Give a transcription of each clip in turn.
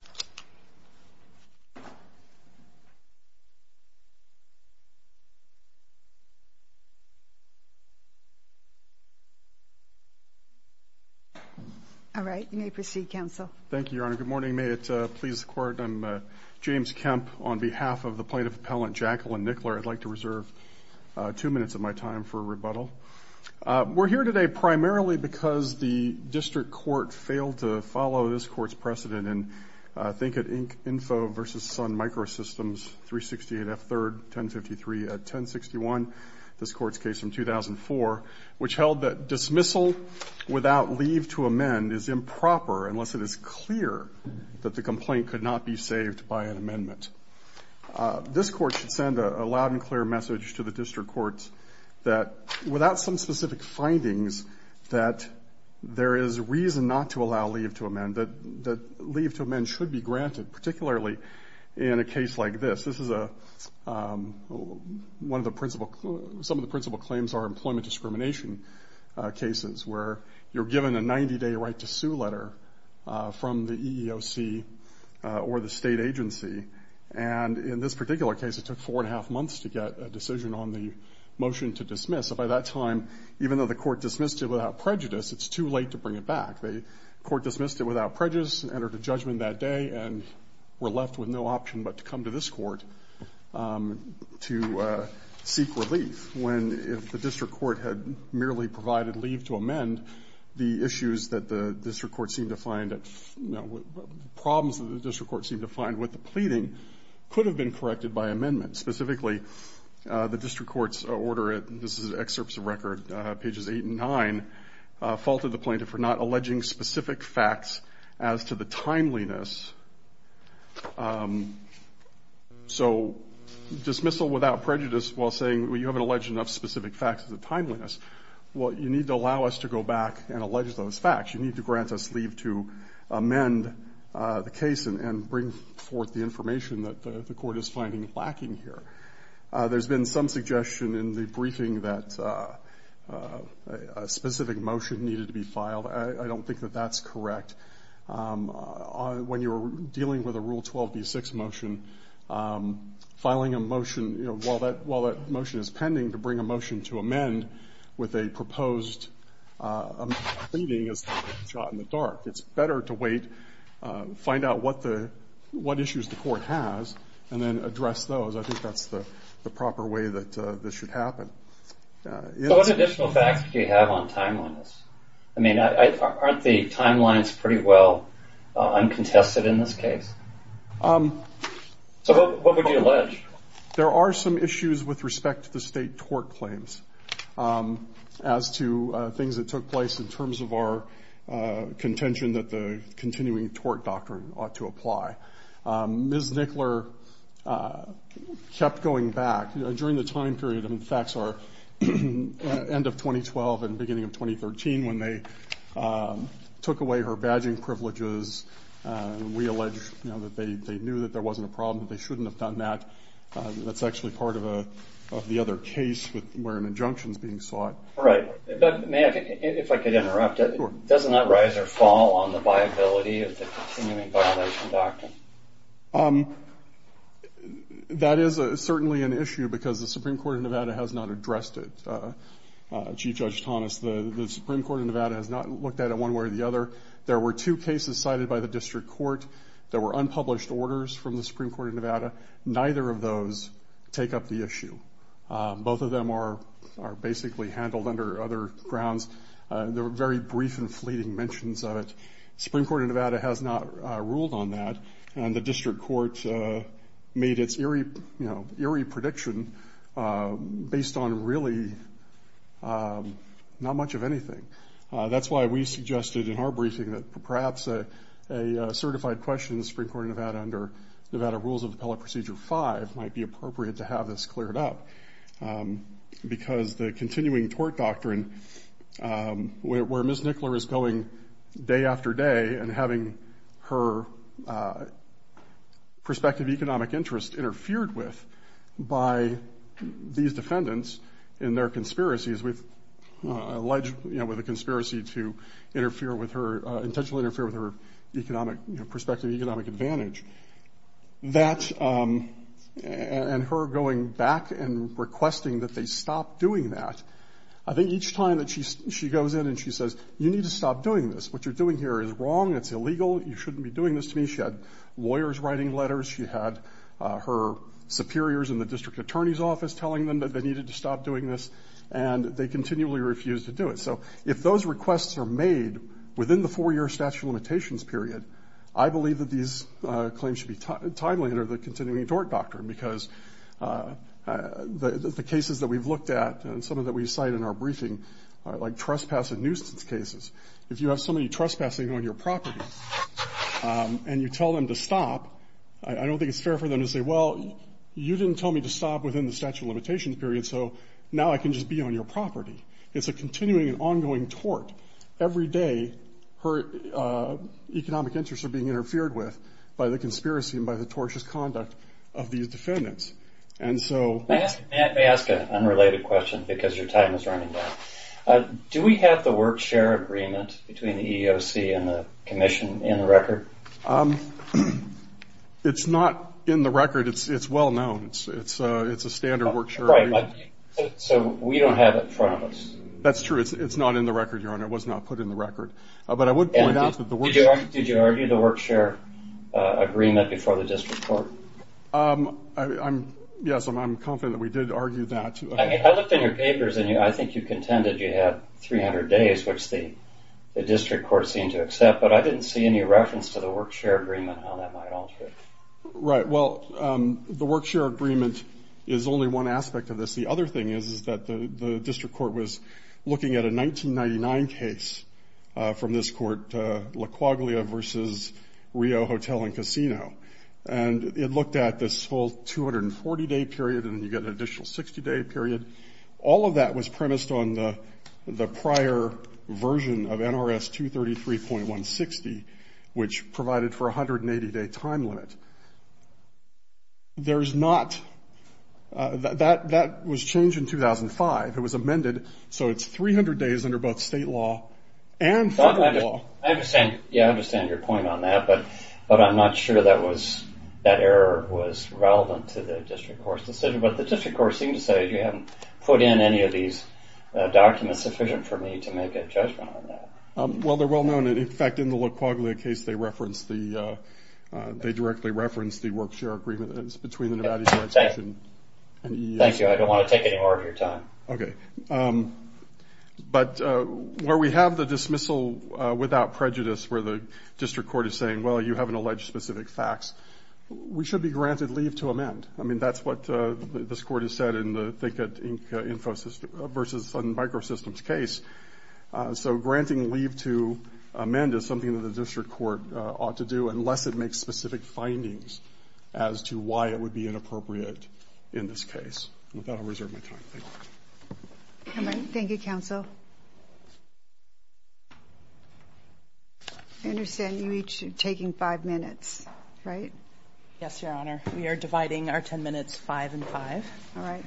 District Court. All right. You may proceed. Council Thank you, Your Honor. Good morning. May it please court. I'm James Kemp on behalf of the plaintiff appellant Jacqueline Nickler. I'd like to reserve two minutes of my time for rebuttal. We're here today primarily because the district court failed to follow this court's precedent and think at Inc. Info versus Sun Microsystems 368 F. Third 1053 at 1061. This court's case from 2004, which held that dismissal without leave to amend is improper unless it is clear that the complaint could not be saved by an amendment. This court should send a loud and clear message to the district courts that without some specific findings, that there is reason not to allow leave to amend, that leave to amend should be granted, particularly in a case like this. This is a, one of the principal, some of the principal claims are employment discrimination cases where you're given a 90-day right to sue letter from the EEOC or the state agency. And in this particular case, it took four and a half months to get a decision on the motion to dismiss. And by that time, even though the court dismissed it without prejudice, it's too late to bring it back. The court dismissed it without prejudice and entered a judgment that day, and we're left with no option but to come to this court to seek relief, when if the district court had merely provided leave to amend, the issues that the district court seemed to find, the problems that the district court seemed to find with the pleading could have been that the district court's order, this is excerpts of record, pages eight and nine, faulted the plaintiff for not alleging specific facts as to the timeliness. So dismissal without prejudice while saying, well, you haven't alleged enough specific facts as to the timeliness, well, you need to allow us to go back and allege those facts. You need to grant us leave to amend the case and bring forth the information that the I have one suggestion in the briefing that a specific motion needed to be filed. I don't think that that's correct. When you're dealing with a Rule 12b6 motion, filing a motion, you know, while that motion is pending, to bring a motion to amend with a proposed pleading is like a shot in the dark. It's better to wait, find out what the, what issues the court has, and then address those. I think that's the proper way that this should happen. So what additional facts do you have on timeliness? I mean, aren't the timelines pretty well uncontested in this case? So what would you allege? There are some issues with respect to the state tort claims as to things that took place in terms of our contention that the continuing tort doctrine ought to apply. Ms. Nickler kept going back. During the time period, the facts are end of 2012 and beginning of 2013 when they took away her badging privileges. We allege that they knew that there wasn't a problem, but they shouldn't have done that. That's actually part of the other case where an injunction is being sought. If I could interrupt. Doesn't that rise or fall on the viability of the continuing violation doctrine? That is certainly an issue because the Supreme Court of Nevada has not addressed it. Chief Judge Thomas, the Supreme Court of Nevada has not looked at it one way or the other. There were two cases cited by the District Court that were unpublished orders from the Supreme Court of Nevada. Neither of those take up the issue. Both of them are basically handled under other grounds. There were very brief and fleeting mentions of it. Supreme Court of Nevada has not ruled on that. The District Court made its eerie prediction based on really not much of anything. That's why we suggested in our briefing that perhaps a certified question in the Supreme Court of Nevada under Nevada Rules of Appellate Procedure 5 might be appropriate to have this cleared up because the continuing tort doctrine where Ms. Nickler is going day after day and having her prospective economic interest interfered with by these defendants in their conspiracies with alleged conspiracy to interfere with her, intentionally interfere with her prospective economic advantage. That and her going back and requesting that they stop doing that. I think each time that she goes in and she says, you need to stop doing this. What you're doing here is wrong. It's illegal. You shouldn't be doing this to me. She had lawyers writing letters. She had her superiors in the district attorney's office telling them that they needed to stop doing this and they continually refused to do it. So if those requests are made within the four-year statute of limitations period, I believe that these claims should be timely under the continuing tort doctrine because the cases that we've looked at and some of that we cite in our briefing are like when you're trespassing on your property and you tell them to stop, I don't think it's fair for them to say, well you didn't tell me to stop within the statute of limitations period so now I can just be on your property. It's a continuing and ongoing tort. Every day her economic interests are being interfered with by the conspiracy and by the tortious conduct of these defendants. And so... Let me ask an unrelated question because your time is running down. Do we have the work-share agreement between the EEOC and the commission in the record? It's not in the record. It's well known. It's a standard work-share agreement. So we don't have it in front of us. That's true. It's not in the record, Your Honor. It was not put in the record. But I would point out that the work-share... Did you argue the work-share agreement before the district court? Yes, I'm confident that we did argue that. I looked in your papers and I think you contended you had 300 days, which the district court seemed to accept, but I didn't see any reference to the work-share agreement, how that might alter it. Right. Well, the work-share agreement is only one aspect of this. The other thing is that the district court was looking at a 1999 case from this court, La Quaglia v. Rio Hotel and Casino. And it looked at this full 240-day period and you get an additional 60-day period. All of that was premised on the prior version of NRS 233.160, which provided for a 180-day time limit. There's not... That was changed in 2005. It was amended, so it's 300 days under both state law and federal law. I understand your point on that, but I'm not sure that was... that error was relevant to the district court's decision, but the district court seemed to say, you haven't put in any of these documents sufficient for me to make a judgment on that. Well, they're well-known. In fact, in the La Quaglia case, they referenced the... they directly referenced the work-share agreement between the Nevada Unified Section... Thank you. I don't want to take any more of your time. Okay. But where we have the dismissal without prejudice where the district court is saying, well, you haven't alleged specific facts, we should be granted leave to amend. I mean, that's what this court has said in the... versus microsystems case. So granting leave to amend is something that the district court ought to do unless it makes specific findings as to why it would be inappropriate in this case. With that, I'll reserve my time. Thank you. Thank you, counsel. I understand you each taking five minutes, right? Yes, Your Honor. We are dividing our ten minutes five and five. All right.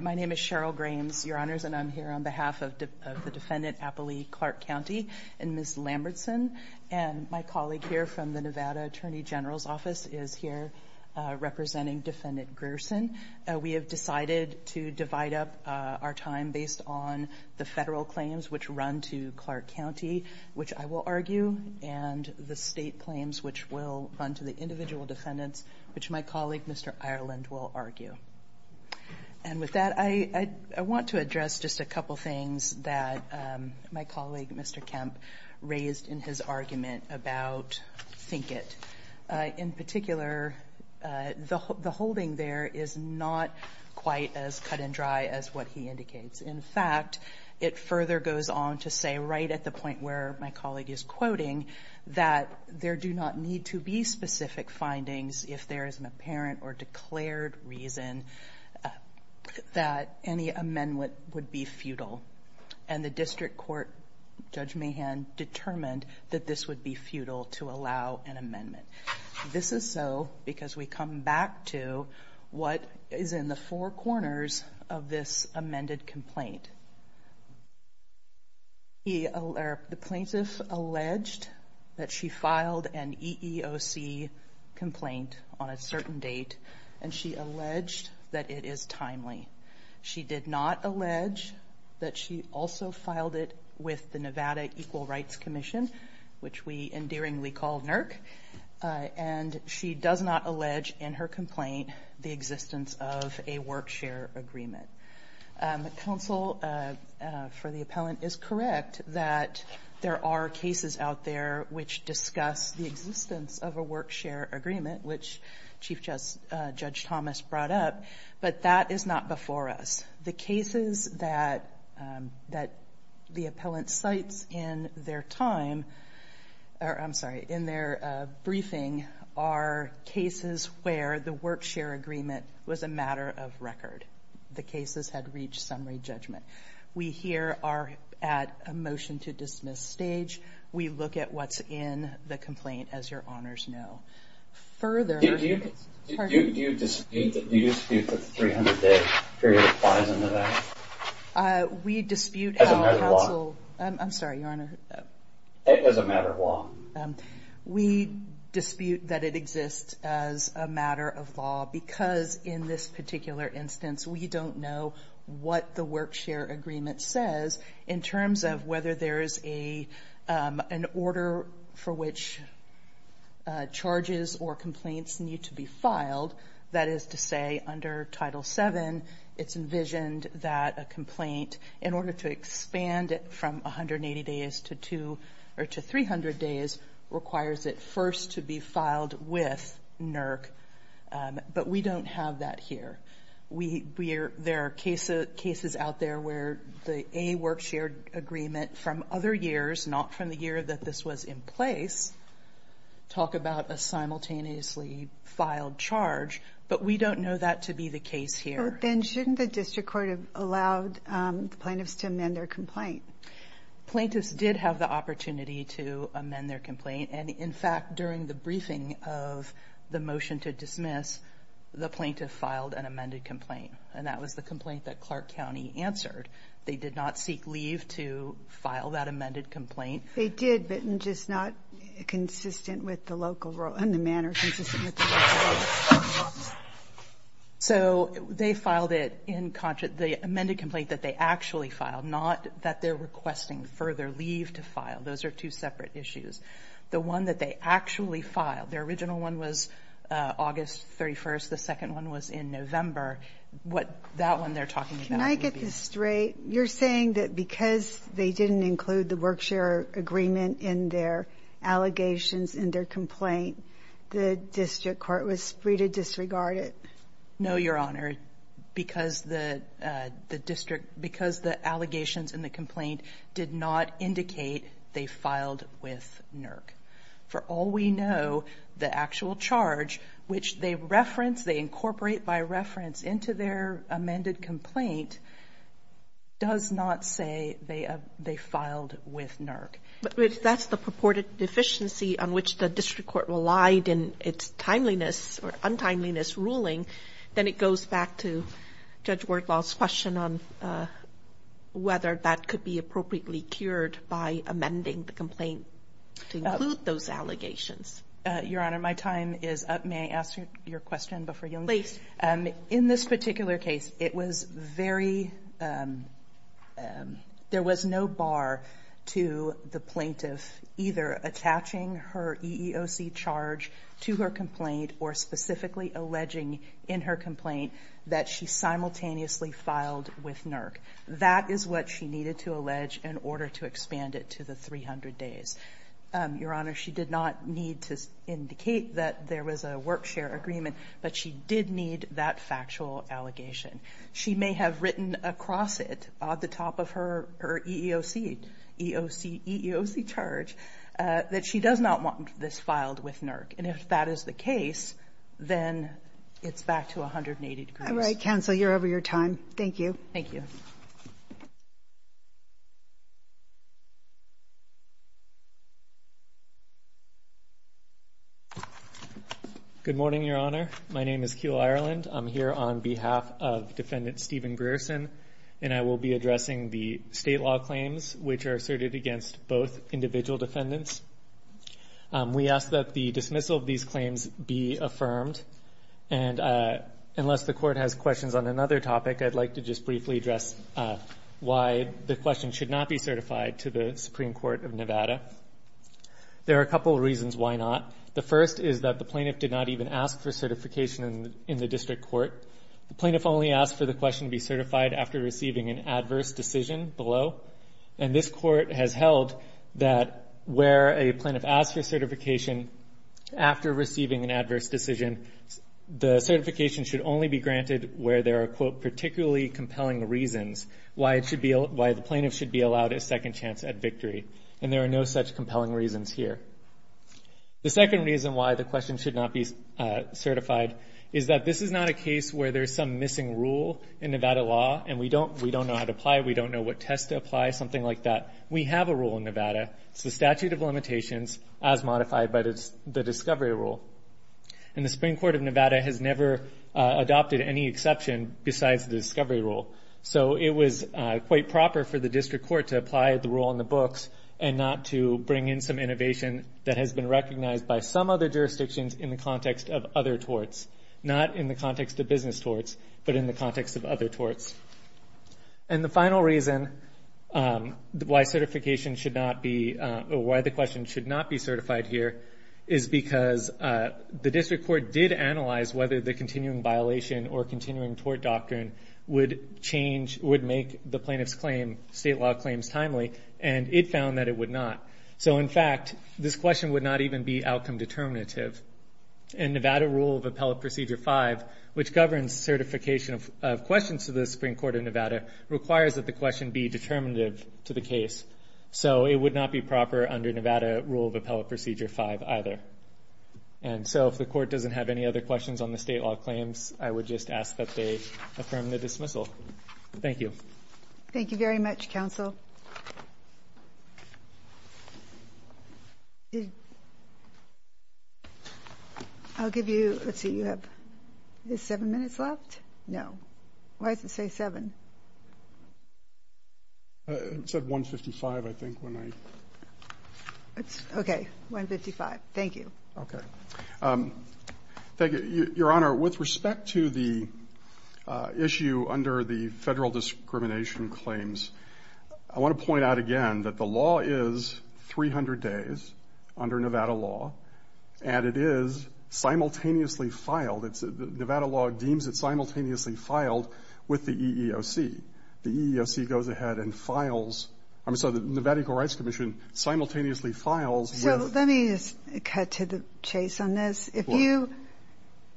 My name is Cheryl Grahams, Your Honors, and I'm here on behalf of the Defendant Apley Clark County and Ms. Lambertson. And my colleague here from the Nevada Attorney General's Office is here representing Defendant Gerson. We have decided to divide up our time based on the federal claims which run to Clark County, which I will argue, and the state claims which will run to the individual defendants, which my colleague, Mr. Ireland, will argue. And with that, I want to address just a couple things that my colleague, Mr. Kemp, raised in his argument about Finkett. In particular, the holding there is not quite as cut and dry as what he indicates. In fact, it further goes on to say, right at the point where my colleague is quoting, that there do not need to be specific findings if there is an apparent or declared reason that any amendment would be futile. And the district court, Judge Mahan, determined that this would be futile to allow an amendment. This is so because we come back to what is in the four corners of this amended complaint. The plaintiff alleged that she filed an EEOC complaint on a certain date and she alleged that it is timely. She did not allege that she also filed it with the Nevada Equal Rights Commission, which we endearingly call NERC, and she does not allege in her complaint the existence of a work-share agreement. Counsel for the appellant is correct that there are cases out there which discuss the existence of a work-share agreement, which Chief Judge Thomas brought up, but that is not before us. The cases that the appellant cites in their time, or I'm sorry, in their briefing, are cases where the work-share agreement was a matter of record. The cases had reached summary judgment. We here are at a motion to dismiss stage. We look at what's in the complaint, as your honors know. Further... Do you dispute that the 300-day period applies in Nevada? As a matter of law. I'm sorry, your honor. As a matter of law. We dispute that it exists as a matter of law because in this particular instance, we don't know what the work-share agreement says in terms of whether there is an order for which charges or complaints need to be filed. That is to say, under Title VII, it's envisioned that a complaint, in order to expand it from 180 days to 300 days, requires it first to be filed with NERC, but we don't have that here. There are cases out there where the A work-share agreement from other years, not from the year that this was in place, talk about a simultaneously filed charge, but we don't know that to be the case here. Then shouldn't the district court have allowed the plaintiffs to amend their complaint? Plaintiffs did have the opportunity to amend their complaint, and in fact, during the briefing of the motion to dismiss, the plaintiff filed an amended complaint, and that was the complaint that Clark County answered. They did not seek leave to file that amended complaint. They did, but just not consistent with the local rule and the manner consistent with the local rule. So they filed it in the amended complaint that they actually filed, not that they're requesting further leave to file. Those are two that they actually filed. Their original one was August 31st. The second one was in November. That one they're talking about. Can I get this straight? You're saying that because they didn't include the work-share agreement in their allegations in their complaint, the district court was free to disregard it? No, Your Honor. Because the allegations in the complaint did not indicate they filed with NERC. For all we know, the actual charge which they reference, they incorporate by reference into their amended complaint, does not say they filed with NERC. But if that's the purported deficiency on which the district court relied in its timeliness or goes back to Judge Wardlaw's question on whether that could be appropriately cured by amending the complaint to include those allegations. Your Honor, my time is up. May I ask your question before you? Please. In this particular case, it was very there was no bar to the plaintiff either attaching her EEOC charge to her complaint or specifically alleging in her complaint that she simultaneously filed with NERC. That is what she needed to allege in order to expand it to the 300 days. Your Honor, she did not need to indicate that there was a work share agreement, but she did need that factual allegation. She may have written across it at the top of her EEOC charge that she does not want this filed with NERC. And if that is the case, then it's back to 180 degrees. All right. Counsel, you're over your time. Thank you. Thank you. Good morning, Your Honor. My name is Kiel Ireland. I'm here on behalf of Defendant Stephen Grierson, and I will be addressing the state law claims which are asserted against both individual defendants. We ask that the dismissal of these claims be affirmed, and unless the Court has questions on another topic, I'd like to just briefly address why the question should not be certified to the Supreme Court of Nevada. There are a couple reasons why not. The first is that the plaintiff did not even ask for certification in the district court. The plaintiff only asked for the question to be certified after receiving an adverse decision below, and this Court has held that where a plaintiff asks for certification after receiving an adverse decision, the certification should only be granted where there are quote, particularly compelling reasons why the plaintiff should be allowed a second chance at victory, and there are no such compelling reasons here. The second reason why the question should not be certified is that this is not a case where there's some missing rule in Nevada law, and we don't know how to apply it, we don't know what test to apply, something like that. We have a rule in Nevada. It's the statute of limitations as modified by the discovery rule, and the Supreme Court of Nevada has never adopted any exception besides the discovery rule, so it was quite proper for the district court to apply the rule in the books and not to bring in some innovation that has been recognized by some other jurisdictions in the context of other torts, not in the context of business torts, but in the context of other torts. And the final reason why certification should not be, or why the question should not be certified here is because the district court did analyze whether the continuing violation or continuing tort doctrine would change, would make the plaintiff's claim, state law claims timely, and it found that it would not. So in fact, this question would not even be outcome determinative. In Nevada rule of appellate procedure 5, which governs certification of questions to the Supreme Court of Nevada, requires that the question be determinative to the case. So it would not be proper under Nevada rule of appellate procedure 5 either. And so if the court doesn't have any other questions on the state law claims, I would just ask that they affirm the dismissal. Thank you. Thank you very much, counsel. I'll give you, let's see, you have seven minutes left? No. Why does it say seven? It said 155, I think, when I... Okay, 155. Thank you. Okay. Thank you. Your Honor, with respect to the issue under the federal discrimination claims, I want to point out again that the law is 300 days under Nevada law, and it is simultaneously filed. Nevada law deems it simultaneously filed with the EEOC. The EEOC goes ahead and files I'm sorry, the Nevada Equal Rights Commission simultaneously files with... So let me just cut to the chase on this. If you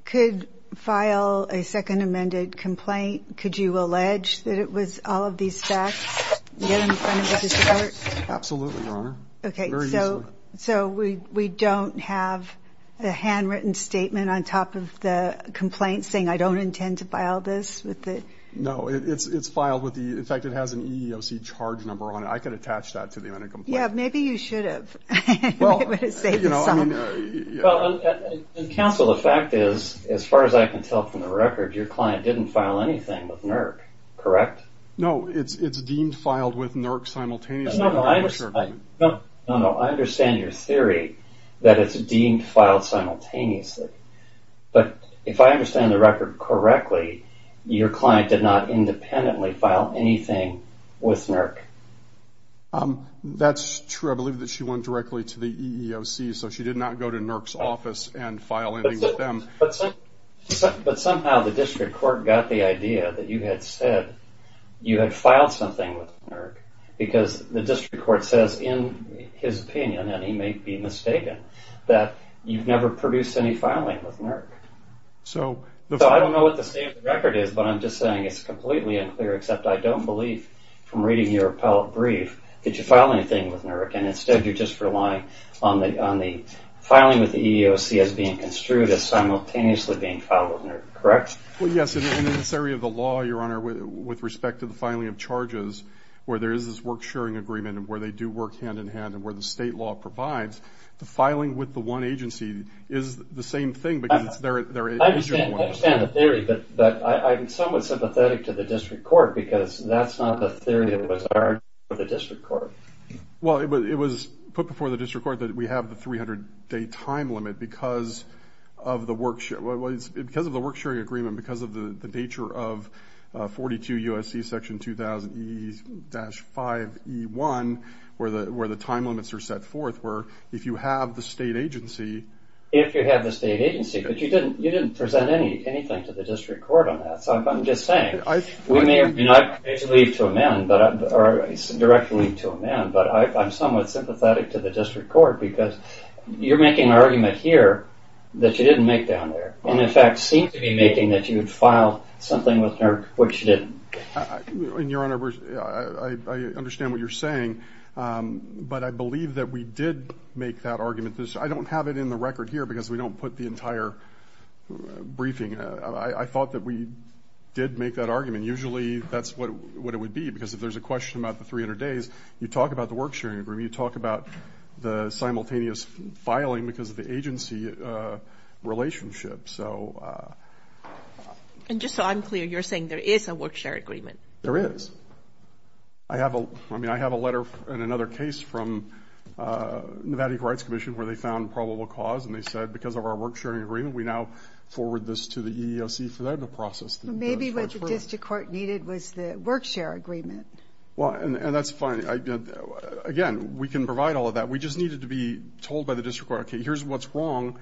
could file a second amended complaint, could you allege that it was all of these facts in front of the court? Absolutely, Your Honor. Very easily. Okay, so we don't have a handwritten statement on top of the complaint saying I don't intend to file this? No, it's filed with the in fact, it has an EEOC charge number on it. I could attach that to the amended complaint. Yeah, maybe you should have. Counsel, the fact is as far as I can tell from the record, your client didn't file anything with NERC. Correct? No, it's deemed filed with NERC simultaneously. No, no, I understand your theory that it's deemed filed simultaneously. But if I understand the record correctly, your client did not independently file anything with NERC. That's true. I believe that she went directly to the EEOC, so she did not go to NERC's office and file anything with them. But somehow the District Court got the idea that you had said you had filed something with NERC because the District Court says in his opinion, and he may be mistaken, that you've never produced any filing with NERC. So I don't know what the state of the record is, but I'm just saying it's completely unclear except I don't believe, from reading your appellate brief, that you filed anything with NERC and instead you're just relying on the filing with the EEOC as being construed as simultaneously being filed with NERC. Correct? Well, yes. In this area of the law, Your Honor, with respect to the filing of charges where there is this work-sharing agreement and where they do work hand-in-hand and where the state law provides, the filing with the one agency is the same thing because they're I understand the theory, but I'm somewhat sympathetic to the District Court because that's not the theory that was argued for the District Court. Well, it was put before the District Court that we have the 300-day time limit because of the work-sharing agreement because of the nature of 42 U.S.C. section 2000 E-5 E-1 where the time limits are set forth where if you have the state agency If you have the state agency, but you didn't present anything to the District Court on that, so I'm just saying we may not leave to amend or directly to amend but I'm somewhat sympathetic to the District Court because you're making an argument here that you didn't make down there and in fact seem to be making that you would file something with NERC which you didn't. Your Honor, I understand what you're saying but I believe that we did make that argument. I don't have it in the record here because we don't put the entire briefing. I thought that we did make that argument. Usually that's what it would be because if there's a question about the 300 days you talk about the work-sharing agreement, you talk about the simultaneous filing because of the agency relationship, so And just so I'm clear you're saying there is a work-sharing agreement. There is. I have a letter and another case from Nevada Equal Rights Commission where they found probable cause and they said because of our work-sharing agreement we now forward this to the EEOC for them to process. Maybe what the District Court needed was the work-sharing agreement. And that's fine. Again, we can provide all of that. We just needed to be told by the District Court here's what's wrong,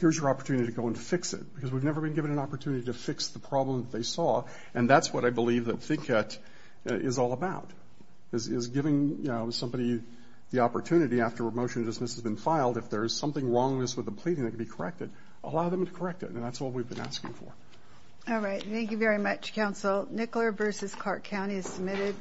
here's your opportunity to go and fix it because we've never been given an opportunity to fix the problem that they saw and that's what I believe that is all about. Is giving somebody the opportunity after a motion of dismissal has been filed, if there's something wrong with the pleading that can be corrected, allow them to correct it. And that's what we've been asking for. All right. Thank you very much, Counsel. Nicola Bruce's Clark County is submitted.